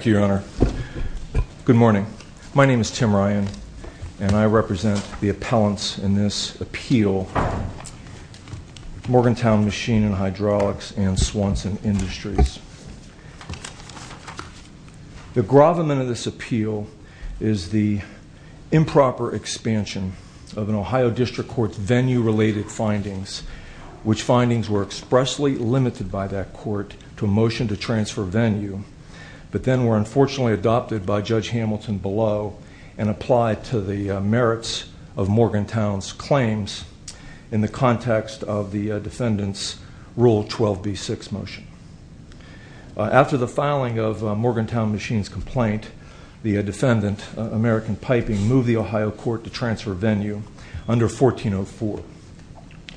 Good morning. My name is Tim Ryan, and I represent the appellants in this appeal, Morgantown Machine & Hydraulics and Swanson Industries. The gravamen of this appeal is the improper expansion of an Ohio District Court venue related findings, which findings were expressly limited by that court to a motion to unfortunately adopted by Judge Hamilton below and applied to the merits of Morgantown's claims in the context of the defendants' Rule 12b6 motion. After the filing of Morgantown Machine's complaint, the defendant, American Piping, moved the Ohio court to transfer venue under 1404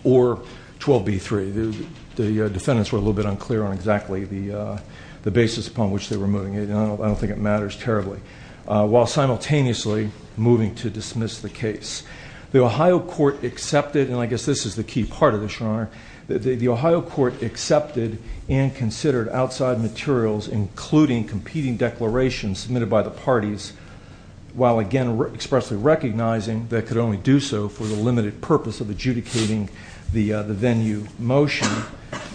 or 12b3. The defendants were a little bit unclear on exactly the basis upon which they were moving it. I don't think it matters terribly, while simultaneously moving to dismiss the case. The Ohio court accepted, and I guess this is the key part of this, Your Honor, the Ohio court accepted and considered outside materials, including competing declarations submitted by the parties, while again expressly recognizing they could only do so for the limited purpose of adjudicating the venue motion,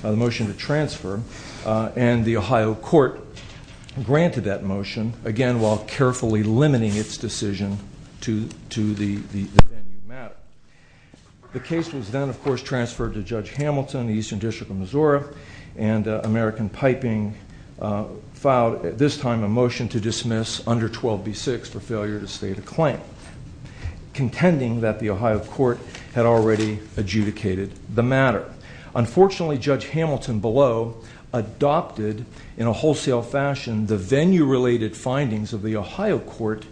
the motion to transfer, and the Ohio court granted that motion, again while carefully limiting its decision to the venue matter. The case was then, of course, transferred to Judge Hamilton, the Eastern District of Missouri, and American Piping filed, at this time, a motion to dismiss under 12b6 for failure to state a claim, contending that the venue matter. Unfortunately, Judge Hamilton, below, adopted, in a wholesale fashion, the venue-related findings of the Ohio court,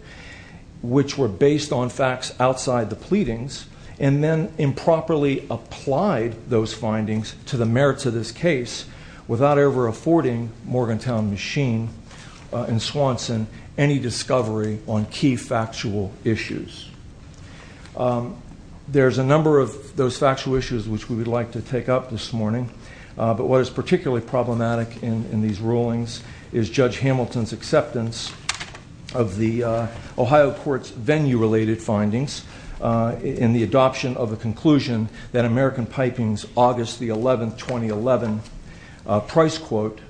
which were based on facts outside the pleadings, and then improperly applied those findings to the merits of this case, without ever affording Morgantown Machine in Swanson any discovery on key to take up this morning, but what is particularly problematic in these rulings is Judge Hamilton's acceptance of the Ohio court's venue-related findings in the adoption of a conclusion that American Piping's August 11, 2011 price quote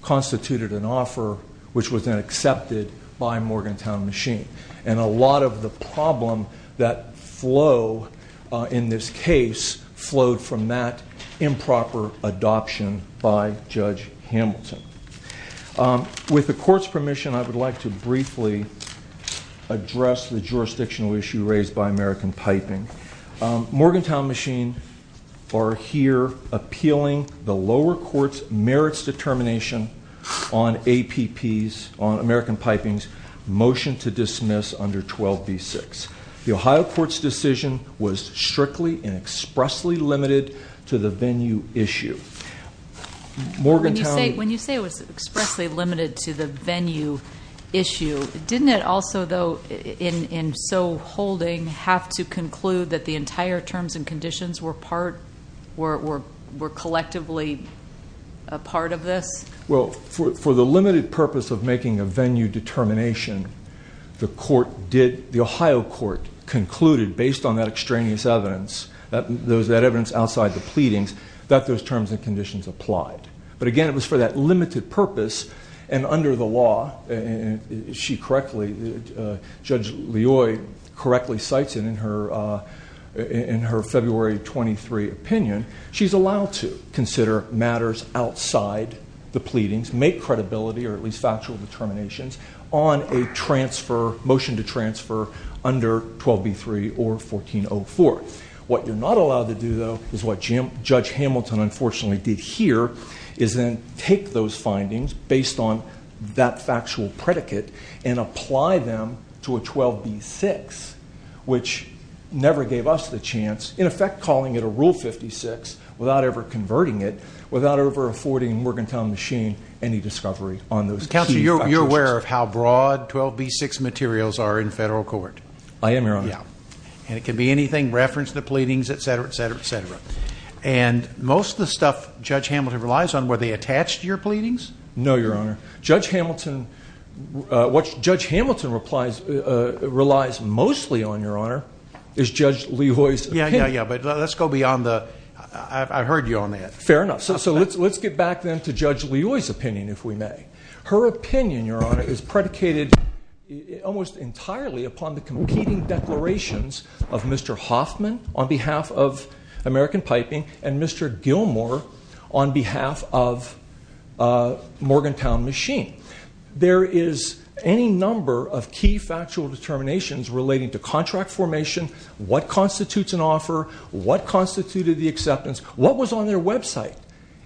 constituted an offer which was then accepted by Morgantown Machine, and a lot of the improper adoption by Judge Hamilton. With the court's permission, I would like to briefly address the jurisdictional issue raised by American Piping. Morgantown Machine are here appealing the lower court's merits determination on APP's, on American Piping's motion to dismiss under 12b6. The Ohio court's strictly and expressly limited to the venue issue. Morgantown... When you say it was expressly limited to the venue issue, didn't it also, though, in so holding, have to conclude that the entire terms and conditions were part, were collectively a part of this? Well, for the limited purpose of making a venue determination, the court did, the Ohio court concluded, based on that extraneous evidence, that evidence outside the pleadings, that those terms and conditions applied. But again, it was for that limited purpose, and under the law, if she correctly, Judge Loy correctly cites it in her February 23 opinion, she's allowed to consider matters outside the pleadings, make credibility or at least factual determinations on a transfer, motion to dismiss. What you're not allowed to do, though, is what Judge Hamilton unfortunately did here, is then take those findings, based on that factual predicate, and apply them to a 12b6, which never gave us the chance, in effect calling it a Rule 56, without ever converting it, without ever affording Morgantown Machine any discovery on those... Counselor, you're aware of how broad 12b6 materials are in federal court? I am, Your Honor. And it can be anything, reference the pleadings, etc., etc., etc. And most of the stuff Judge Hamilton relies on, were they attached to your pleadings? No, Your Honor. Judge Hamilton, what Judge Hamilton relies mostly on, Your Honor, is Judge Loy's opinion. Yeah, yeah, yeah, but let's go beyond the... I heard you on that. Fair enough. So let's get back then to Judge Loy's opinion, if we may. Her opinion, Your Honor, is predicated almost entirely upon the competing declarations of Mr. Hoffman, on behalf of American Piping, and Mr. Gilmour, on behalf of Morgantown Machine. There is any number of key factual determinations relating to contract formation, what constitutes an offer, what constituted the acceptance, what was on their website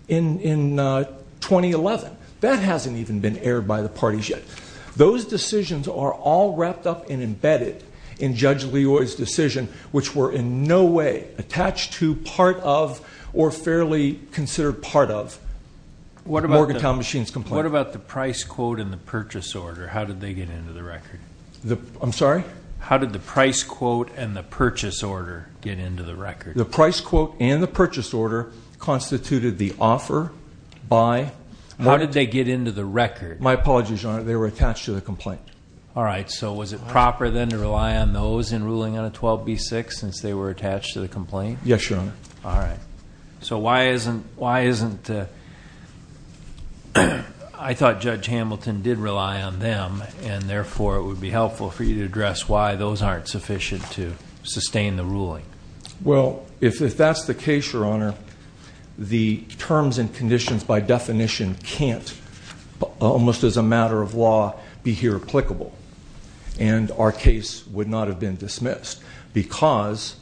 in 2011. That hasn't even been aired by the parties yet. Those decisions are all wrapped up and embedded in Judge Loy's decision, which were in no way attached to, part of, or fairly considered part of Morgantown Machine's complaint. What about the price quote and the purchase order? How did they get into the record? I'm sorry? How did the price quote and the purchase order get into the record? The price quote and the purchase order constituted the offer by... How did they get into the record? My apologies, Your Honor. They were attached to the complaint. All right. So was it proper then to rely on those in ruling on a 12B6 since they were attached to the complaint? Yes, Your Honor. All right. So why isn't... I thought Judge Hamilton did rely on them, and therefore, it would be helpful for you to address why those aren't sufficient to sustain the ruling. Well, if that's the case, Your Honor, the terms and conditions, by definition, can't, almost as a matter of law, be here applicable. And our case would not have been dismissed, because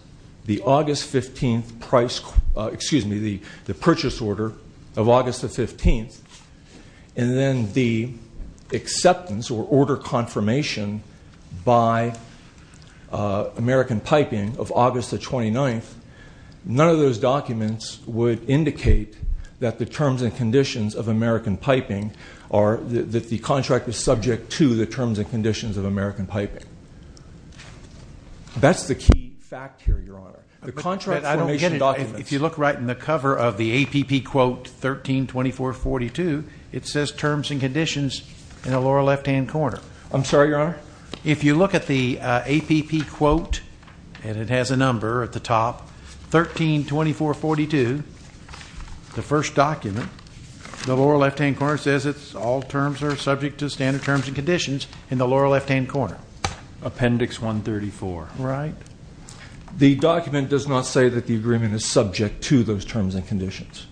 the August 15th price... Excuse me, the purchase order of August the 15th, and then the acceptance or order confirmation by American Piping of August the 29th, none of those documents would indicate that the terms and conditions of American Piping are... That the contract is subject to the terms and conditions of American Piping. That's the key fact here, Your Honor. The contract formation documents... But I don't get it. If you look right in the cover of the APP Quote 132442, it says terms and conditions in the lower left hand corner. I'm sorry, Your Honor? If you look at the APP Quote, and it has a number at the top, 132442, the first document, the lower left hand corner says it's all terms are subject to standard terms and conditions in the lower left hand corner. Appendix 134. Right. The document does not say that the agreement is subject to those terms and conditions.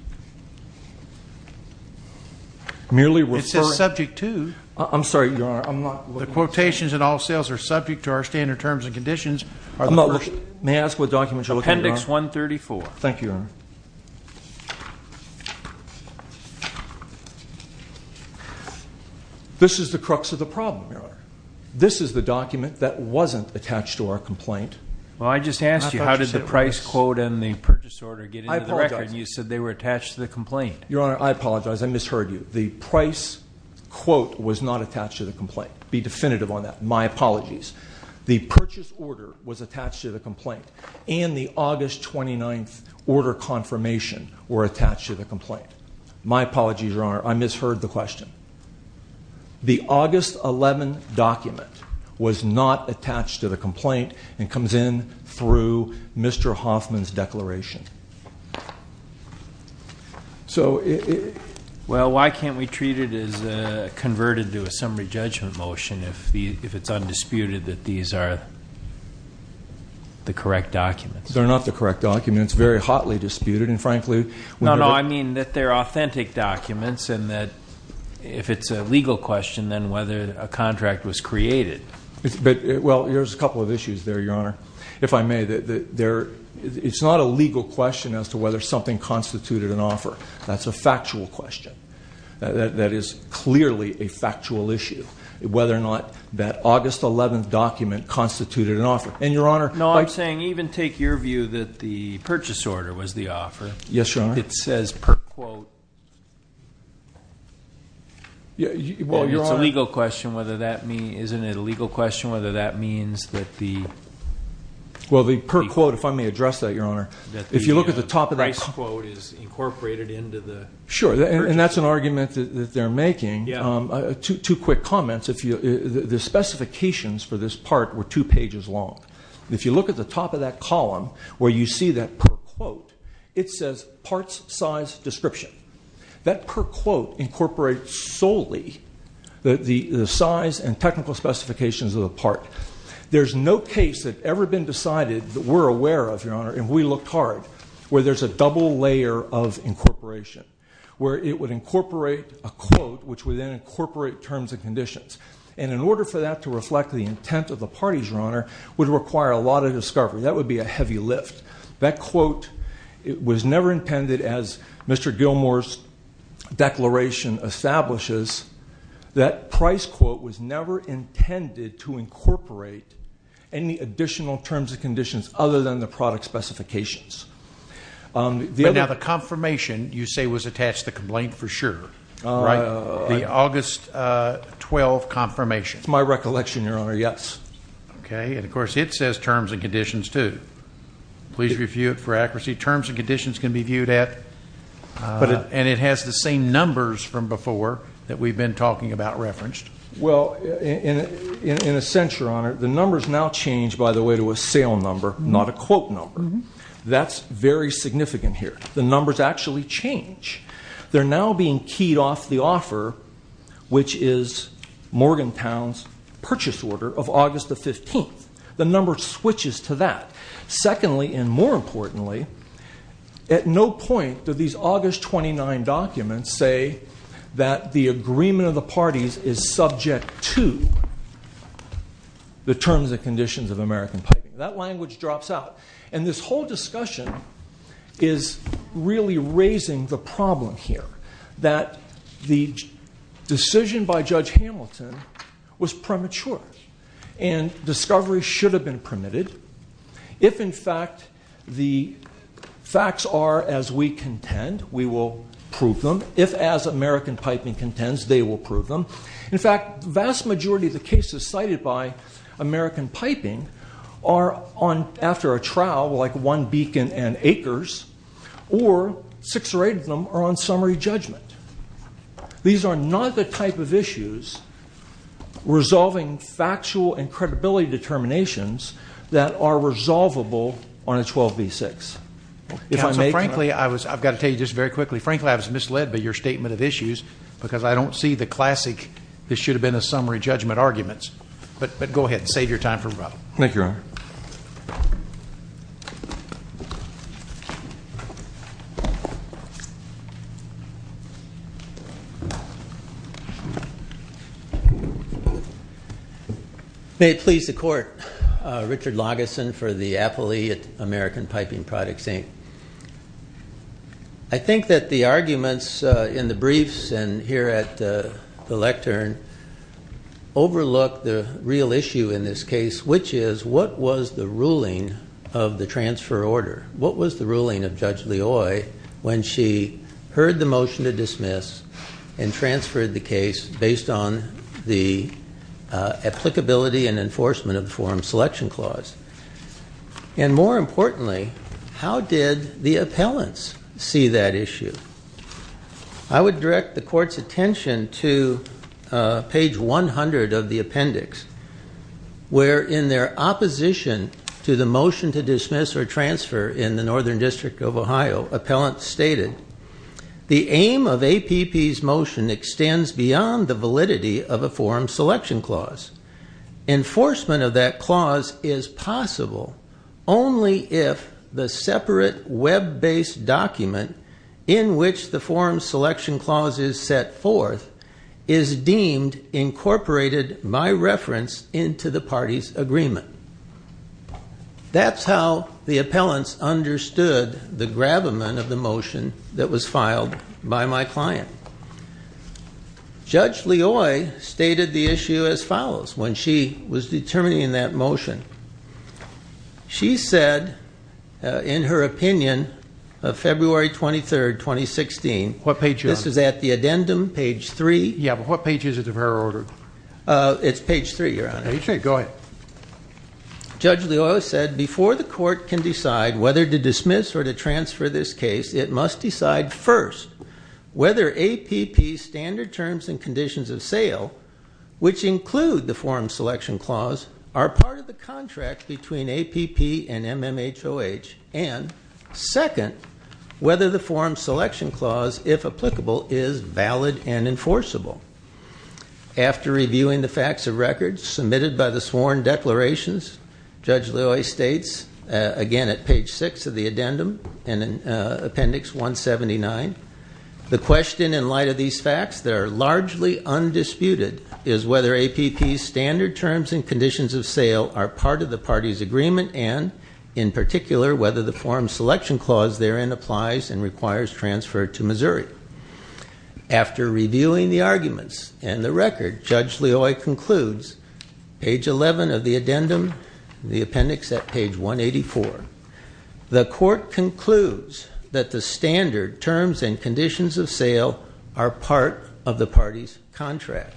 Merely referring... It says subject to... I'm sorry, Your Honor, I'm not... The quotations in all sales are subject to our standard terms and conditions. May I ask what document you're looking at, Your Honor? Appendix 134. Thank you, Your Honor. This is the crux of the problem, Your Honor. This is the document that wasn't attached to our complaint. Well, I just asked you how did the price quote and the purchase order get into the record, and you said they were attached to the complaint. Your Honor, I apologize. I misheard you. The price quote was not attached to the complaint. Be definitive on that. My apologies. The purchase order was attached to the complaint, and the August 29th order confirmation were attached to the complaint. My apologies, Your Honor. I misheard the question. The August 11 document was not attached to the complaint and comes in through Mr. Hoffman's declaration. So... Well, why can't we treat it as converted to a summary judgment motion if it's undisputed that these are the correct documents? They're not the correct documents, very hotly disputed, and frankly... No, no, I mean that they're authentic documents and that if it's a legal question, then whether a contract was created. Well, there's a couple of issues there, Your Honor, if I may. It's not a legal question as to whether something constituted an offer. That's a factual question. That is clearly a factual issue, whether or not that August 11th document constituted an offer. And Your Honor... No, I'm saying even take your view that the purchase order was the offer. Yes, Your Honor. It says per quote... It's a legal question whether that mean... Isn't it a legal question whether that means that the... Well, the per quote, if I may address that, Your Honor, if you look at the top of that... The price quote is incorporated into the... Sure, and that's an argument that they're making. Yeah. Two quick comments. The specifications for this part were two pages long. If you look at the top of that column where you see that per quote, it says, parts, size, description. That per quote incorporates solely the size and technical specifications of the part. There's no case that ever been decided that we're aware of, Your Honor, and we looked hard where there's a double layer of incorporation, where it would incorporate a quote which would then incorporate terms and conditions. And in order for that to reflect the intent of the parties, Your Honor, would require a lot of discovery. That would be a heavy lift. That quote was never intended as Mr. Gilmour's declaration establishes. That price quote was never intended to incorporate any additional terms and conditions other than the product specifications. But now, the confirmation you say was attached to the complaint for sure, right? The August 12 confirmation. It's my recollection, Your Honor, yes. Okay. And of course, it says terms and conditions too. Please review it for accuracy. Terms and conditions can be viewed at... And it has the same numbers from before that we've been talking about referenced. Well, in a sense, Your Honor, the numbers now change, by the way, to a sale number, not a quote number. That's very significant here. The numbers actually change. They're now being keyed off the offer, which is Morgantown's purchase order of August the 15th. The number switches to that. Secondly, and more importantly, at no point do these August 29 documents say that the agreement of the parties is subject to the terms and conditions of American piping. That language drops out. And this whole discussion is really raising the problem here, that the decision by Judge Hamilton was premature, and discovery should have been permitted. If in fact, the facts are as we contend, we will prove them. If as American piping contends, they will prove them. In fact, the vast majority of the cases cited by American piping are on... After a trial, like one beacon and acres, or six or eight of them are on summary judgment. These are not the type of issues resolving factual and credibility determinations that are resolvable on a 12b6. If I may... Yeah, so frankly, I've got to tell you this very quickly, Frank Lab's misled by your statement of issues, because I don't see the classic, this should have been a summary judgment arguments. But go ahead and save your time for the problem. Thank you, Your Honor. May it please the court. Richard Lagason for the affilee at the time. I think that the arguments in the briefs and here at the lectern overlook the real issue in this case, which is, what was the ruling of the transfer order? What was the ruling of Judge Leoy when she heard the motion to dismiss and transferred the case based on the applicability and enforcement of the Forum Selection Clause? And more importantly, how did the appellants see that issue? I would direct the court's attention to page 100 of the appendix, where in their opposition to the motion to dismiss or transfer in the Northern District of Ohio, appellant stated, the aim of APP's motion extends beyond the validity of a Forum Selection Clause. Enforcement of that clause is possible only if the separate web based document in which the Forum Selection Clause is set forth is deemed incorporated by reference into the party's agreement. That's how the appellants understood the gravamen of the motion that was filed by my client. Judge Leoy stated the issue as follows when she was determining that motion. She said, in her opinion, of February 23rd, 2016... What page are you on? This is at the addendum, page three. Yeah, but what page is it of her order? It's page three, Your Honor. Page three, go ahead. Judge Leoy said, before the court can decide whether to dismiss or to transfer, APP's standard terms and conditions of sale, which include the Forum Selection Clause, are part of the contract between APP and MMHOH, and second, whether the Forum Selection Clause, if applicable, is valid and enforceable. After reviewing the facts of record submitted by the sworn declarations, Judge Leoy states, again at page six of the addendum and in appendix 179, the question in light of these facts that are largely undisputed is whether APP's standard terms and conditions of sale are part of the party's agreement and, in particular, whether the Forum Selection Clause therein applies and requires transfer to Missouri. After reviewing the arguments and the record, Judge Leoy concludes, page 11 of the addendum, the appendix at page 184, the court concludes that the standard terms and conditions of sale are part of the party's contract.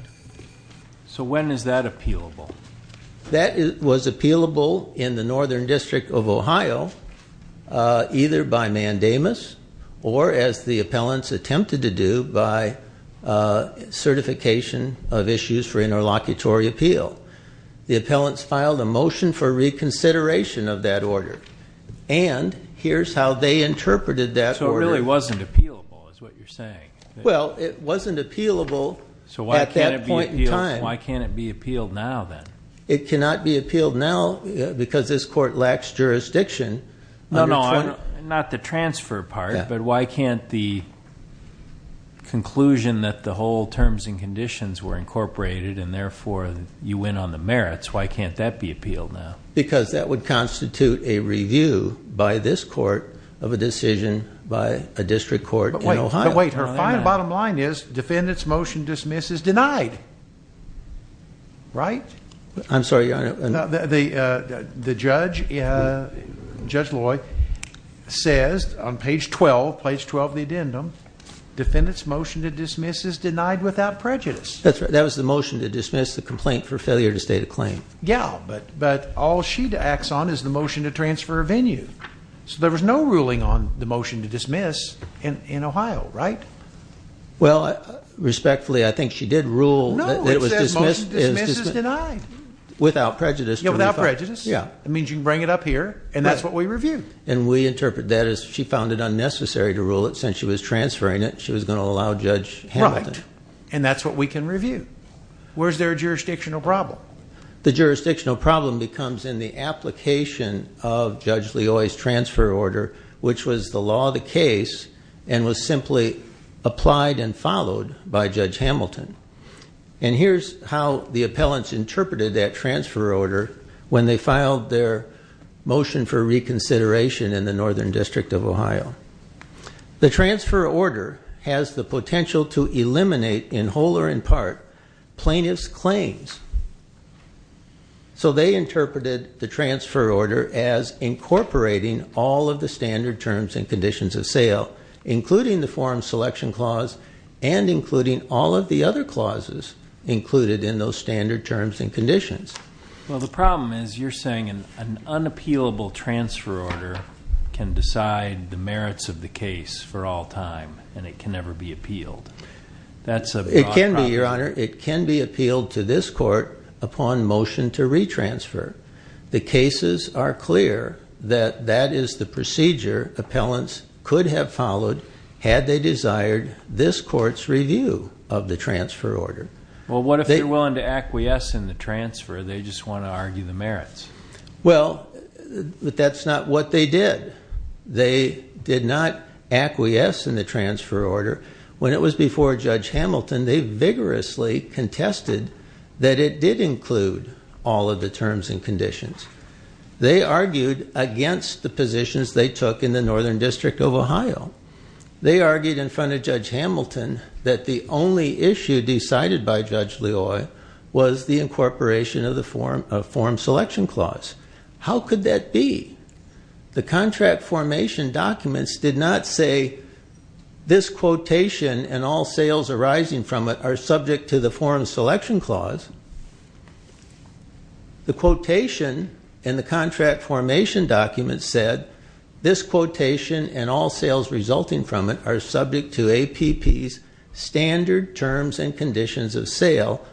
So when is that appealable? That was appealable in the Northern District of Ohio, either by mandamus or, as the appellants attempted to do, by certification of issues for interlocutory appeal. The appellants filed a motion for reconsideration of that order. And here's how they interpreted that order. So it really wasn't appealable, is what you're saying? Well, it wasn't appealable at that point in time. So why can't it be appealed now, then? It cannot be appealed now because this court lacks jurisdiction. No, no, not the transfer part, but why can't the conclusion that the whole terms and conditions were incorporated and, therefore, you went on the merits, why can't that be appealed now? Because that would constitute a review by this court of a decision by a district court in Ohio. But wait, her bottom line is, defendant's motion to dismiss is denied, right? I'm sorry, Your Honor. The judge, Judge Leoy, says on page 12, page 12 of the addendum, defendant's motion to dismiss is denied without prejudice. That's right. That was the motion to dismiss the complaint for failure to state a claim. Yeah, but all she acts on is the motion to transfer a venue. So there was no ruling on the motion to dismiss in Ohio, right? Well, respectfully, I think she did rule that it was dismissed. No, it says motion to dismiss is denied. Without prejudice. Yeah, without prejudice. Yeah. It means you can bring it up here, and that's what we review. And we interpret that as she found it unnecessary to rule it, since she was transferring it, she was going to allow Judge Hamilton. Right. And that's what we can review. Where's their jurisdictional problem? The jurisdictional problem becomes in the application of Judge Leoy's transfer order, which was the law of the case, and was simply applied and followed by Judge Hamilton. And here's how the appellants interpreted that transfer order when they filed their motion for reconsideration in the Northern District of Ohio. The transfer order has the potential to eliminate in whole or in part plaintiff's claims. So they interpreted the transfer order as incorporating all of the standard terms and conditions of sale, including the forum selection clause, and including all of the other clauses included in those standard terms and conditions. Well, the problem is, you're saying an unappealable transfer order can decide the merits of the case for all time and it can never be appealed. That's a... It can be, Your Honor. It can be appealed to this court upon motion to retransfer. The cases are clear that that is the procedure appellants could have followed had they desired this court's review of the transfer order. Well, what if they're willing to acquiesce in the transfer, they just wanna argue the merits? Well, but that's not what they did. They did not acquiesce in the transfer order. When it was before Judge Hamilton, they vigorously contested that it did include all of the terms and conditions. They argued against the positions they took in the Northern District of Ohio. They argued in front of Judge Hamilton that the only issue decided by Judge Loy was the incorporation of the forum selection clause. How could that be? The contract formation documents did not say this quotation and all sales arising from it are subject to the forum selection clause. The quotation in the contract formation document said, this quotation and all sales resulting from it are subject to terms and conditions of sale,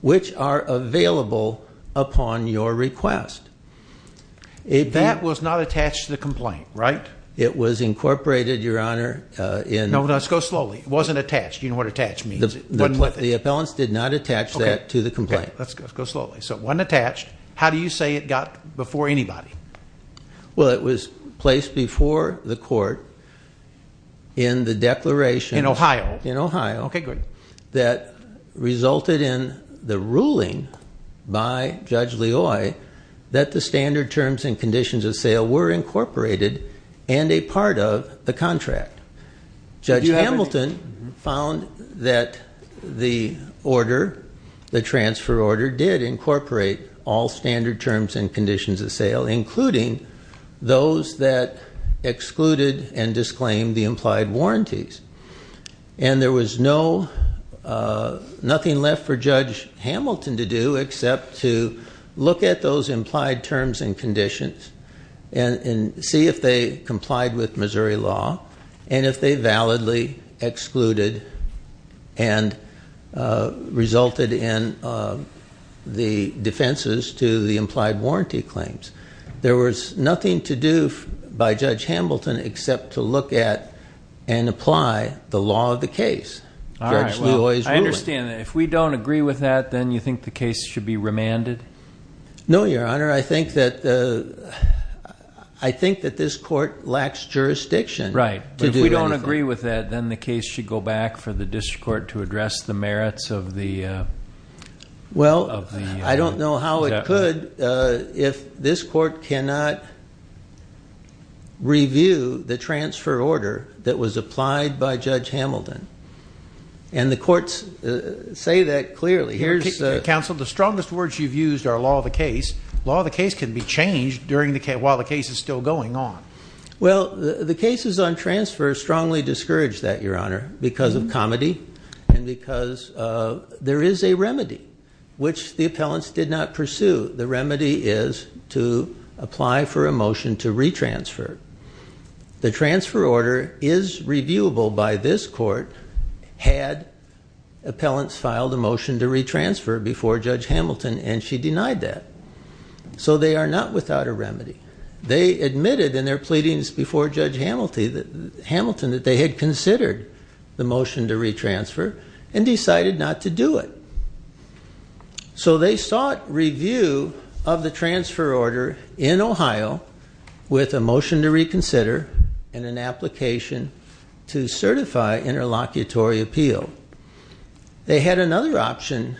which are available upon your request. That was not attached to the complaint, right? It was incorporated, Your Honor. No, let's go slowly. It wasn't attached. You know what attached means. The appellants did not attach that to the complaint. Okay, let's go slowly. So it wasn't attached. How do you say it got before anybody? Well, it was placed before the court in the declaration in Ohio, in Ohio. Okay, good. That resulted in the ruling by Judge Loy that the standard terms and conditions of sale were incorporated and a part of the contract. Judge Hamilton found that the order, the transfer order did incorporate all standard terms and conditions of sale, including those that excluded and disclaimed the implied warranties. And there was no, nothing left for Judge Hamilton to do except to look at those implied terms and conditions and see if they complied with Missouri law and if they validly excluded and resulted in the defenses to the implied warranty claims. There was nothing to do by Judge Hamilton except to look at and apply the law of the case, Judge Loy's ruling. Alright, well, I understand that. If we don't agree with that, then you think the case should be remanded? No, Your Honor. I think that this court lacks jurisdiction to do anything. Right, but if we don't agree with that, then the case should go back for the district court to address the merits of the... Well, I don't know how it could if this court cannot review the transfer order that was applied by Judge Hamilton. And the courts say that clearly. Counsel, the strongest words you've used are law of the case. Law of the case can be changed while the case is still going on. Well, the cases on transfer strongly discourage that, Your Honor, because of comedy and because there is a remedy, which the appellants did not pursue. The remedy is to apply for a motion to retransfer. The transfer order is reviewable by this court had appellants filed a motion to retransfer before Judge Hamilton, and she denied that. So they are not without a remedy. They admitted in their pleadings before Judge Hamilton that they had considered the motion to retransfer and decided not to do it. So they sought review of the transfer order in Ohio with a motion to reconsider and an application to certify interlocutory appeal. They had another option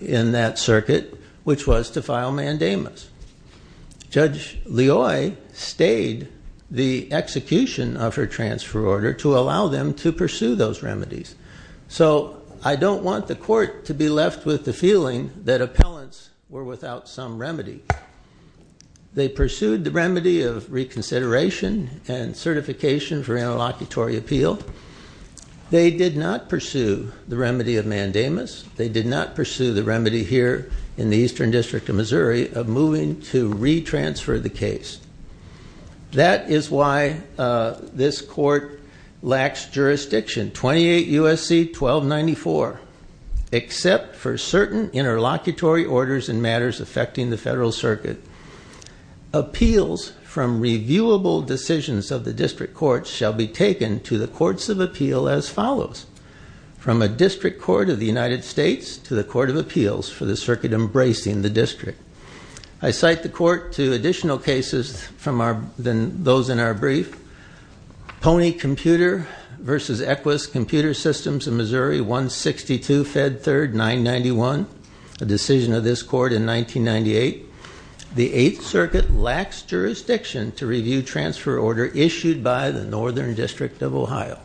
in that circuit, which was to file mandamus. Judge Leoy stayed the execution of her transfer order to allow them to I don't want the court to be left with the feeling that appellants were without some remedy. They pursued the remedy of reconsideration and certification for interlocutory appeal. They did not pursue the remedy of mandamus. They did not pursue the remedy here in the Eastern District of Missouri of moving to retransfer the case. That is why this court lacks jurisdiction. 28 U.S.C. 1294, except for certain interlocutory orders and matters affecting the federal circuit. Appeals from reviewable decisions of the district courts shall be taken to the courts of appeal as follows. From a district court of the United States to the court of appeals for the circuit embracing the district. I cite the cases from those in our brief. Pony Computer versus Equus Computer Systems in Missouri 162 Fed Third 991, a decision of this court in 1998. The Eighth Circuit lacks jurisdiction to review transfer order issued by the Northern District of Ohio,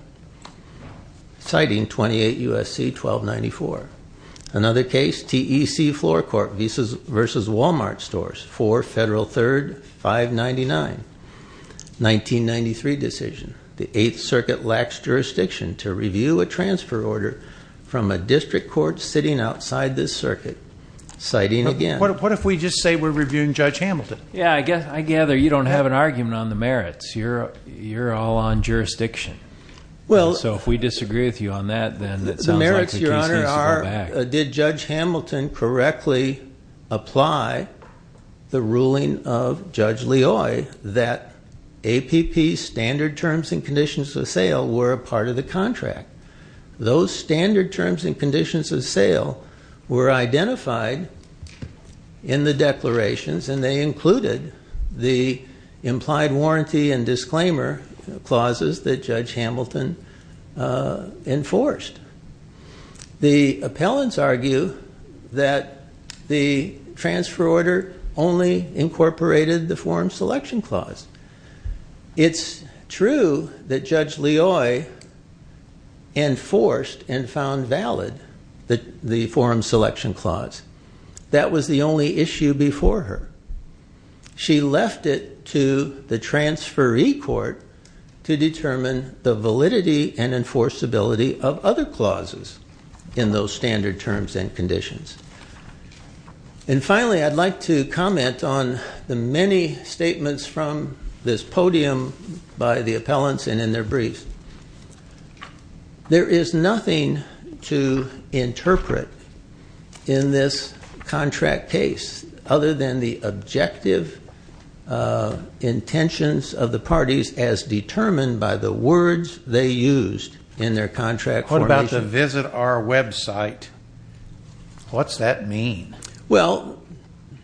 citing 28 U.S.C. 1294. Another case, TEC Floor Court versus Wal-Mart Stores for Federal Third 599, 1993 decision. The Eighth Circuit lacks jurisdiction to review a transfer order from a district court sitting outside this circuit, citing again. What if we just say we're reviewing Judge Hamilton? Yeah, I gather you don't have an argument on the merits. You're all on jurisdiction. So if we disagree with you on that, then it sounds like we are. Did Judge Hamilton correctly apply the ruling of Judge Leoi that APP standard terms and conditions of sale were a part of the contract? Those standard terms and conditions of sale were identified in the declarations, and they included the implied warranty and disclaimer clauses that Judge Hamilton enforced. The appellants argue that the transfer order only incorporated the forum selection clause. It's true that Judge Leoi enforced and found valid the forum selection clause. That was the only issue before her. She left it to the transferee court to determine the validity and enforceability of other clauses. In those standard terms and conditions. And finally, I'd like to comment on the many statements from this podium by the appellants and in their briefs. There is nothing to interpret in this contract case other than the objective intentions of the parties as determined by the words they used in their contract. What about the visit our website? What's that mean? Well,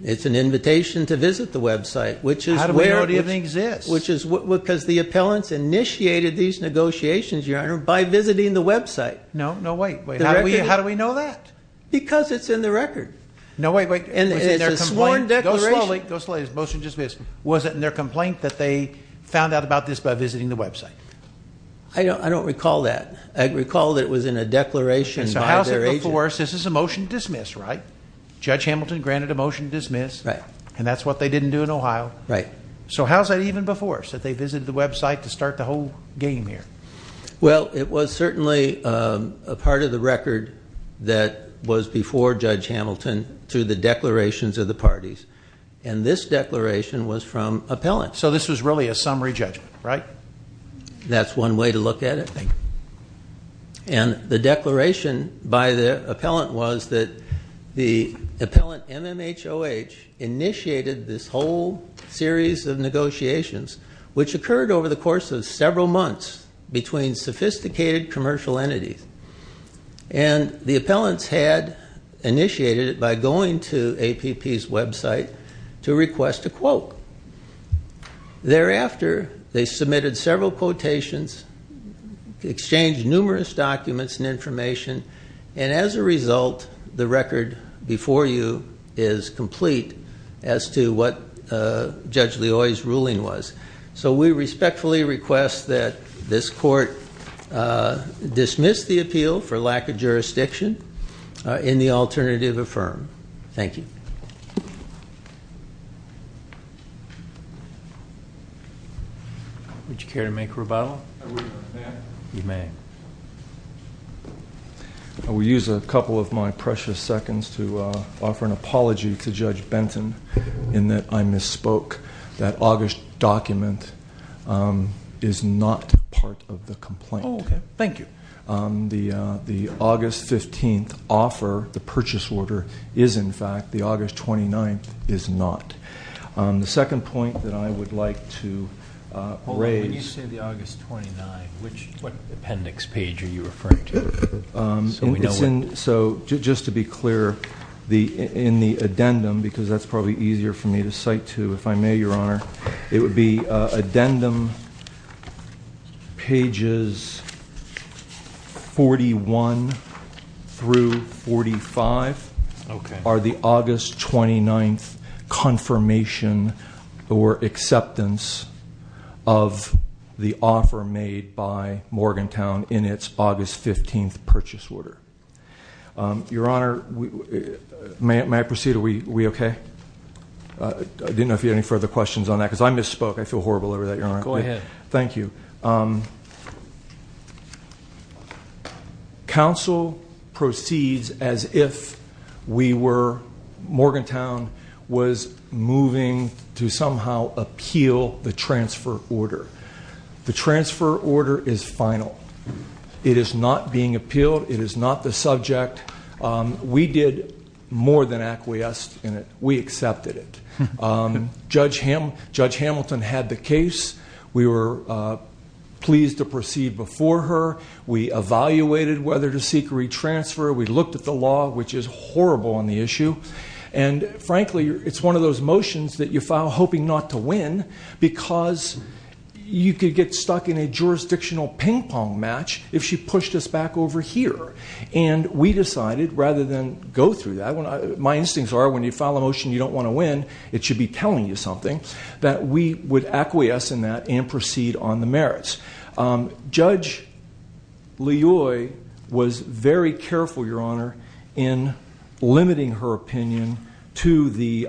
it's an invitation to visit the website, which is... How do we know it even exists? Because the appellants initiated these negotiations, Your Honor, by visiting the website. No, no, wait. How do we know that? Because it's in the record. No, wait, wait. And it's a sworn declaration. Go slowly, go slowly. This motion just missed. Was it in their complaint that they found out about this by visiting the website? I don't recall that. I recall that it was in a declaration by their agent. And so how's it before us? This is a motion to dismiss, right? Judge Hamilton granted a motion to dismiss. Right. And that's what they didn't do in Ohio. Right. So how's that even before us, that they visited the website to start the whole game here? Well, it was certainly a part of the record that was before Judge Hamilton to the declarations of the parties. And this declaration was from appellants. So this was really a summary judgment, right? That's one way to look at it. And the declaration by the appellant was that the appellant, MMHOH, initiated this whole series of negotiations, which occurred over the course of several months between sophisticated commercial entities. And the appellants had initiated it by going to APP's website to request a quote. Thereafter, they submitted several quotations, exchanged numerous documents and information. And as a result, the record before you is complete as to what Judge Leoy's ruling was. So we respectfully request that this court dismiss the appeal for lack of jurisdiction in the alternative affirm. Thank you. Would you care to make a rebuttal? I would. May I? You may. I will use a couple of my precious seconds to offer an apology to Judge Benton in that I misspoke. That the August 15th offer, the purchase order, is in fact, the August 29th is not. The second point that I would like to raise... When you say the August 29th, which appendix page are you referring to? So just to be clear, in the addendum, because that's probably easier for me, 31 through 45 are the August 29th confirmation or acceptance of the offer made by Morgantown in its August 15th purchase order. Your honor, may I proceed? Are we okay? I didn't know if you had any further questions on that, because I misspoke. I feel horrible over that, your honor. Go ahead. Thank you. Counsel proceeds as if we were... Morgantown was moving to somehow appeal the transfer order. The transfer order is final. It is not being appealed. It is not the subject. We did more than acquiesce in it. We accepted it. Judge Hamilton had the case. We were pleased to proceed before her. We evaluated whether to seek a retransfer. We looked at the law, which is horrible on the issue. And frankly, it's one of those motions that you file hoping not to win, because you could get stuck in a jurisdictional ping pong match if she pushed us back over here. And we decided, rather than go through that... My instincts are, when you file a motion you don't wanna win, it should be telling you something, that we would acquiesce in that and proceed on the merits. Judge Liyue was very careful, your honor, in limiting her opinion to the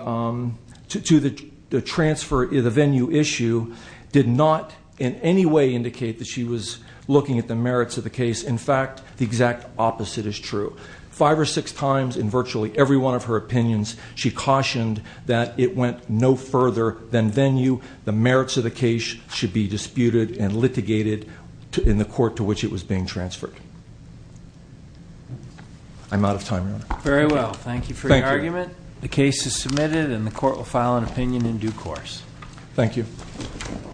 transfer... The venue issue did not in any way indicate that she was looking at the merits of the case. In fact, the exact opposite is true. Five or six times in virtually every one of her opinions, she cautioned that it went no further than venue. The merits of the case should be disputed and litigated in the court to which it was being transferred. I'm out of time, your honor. Very well. Thank you for your argument. The case is submitted and the court will file an opinion in due course. Thank you.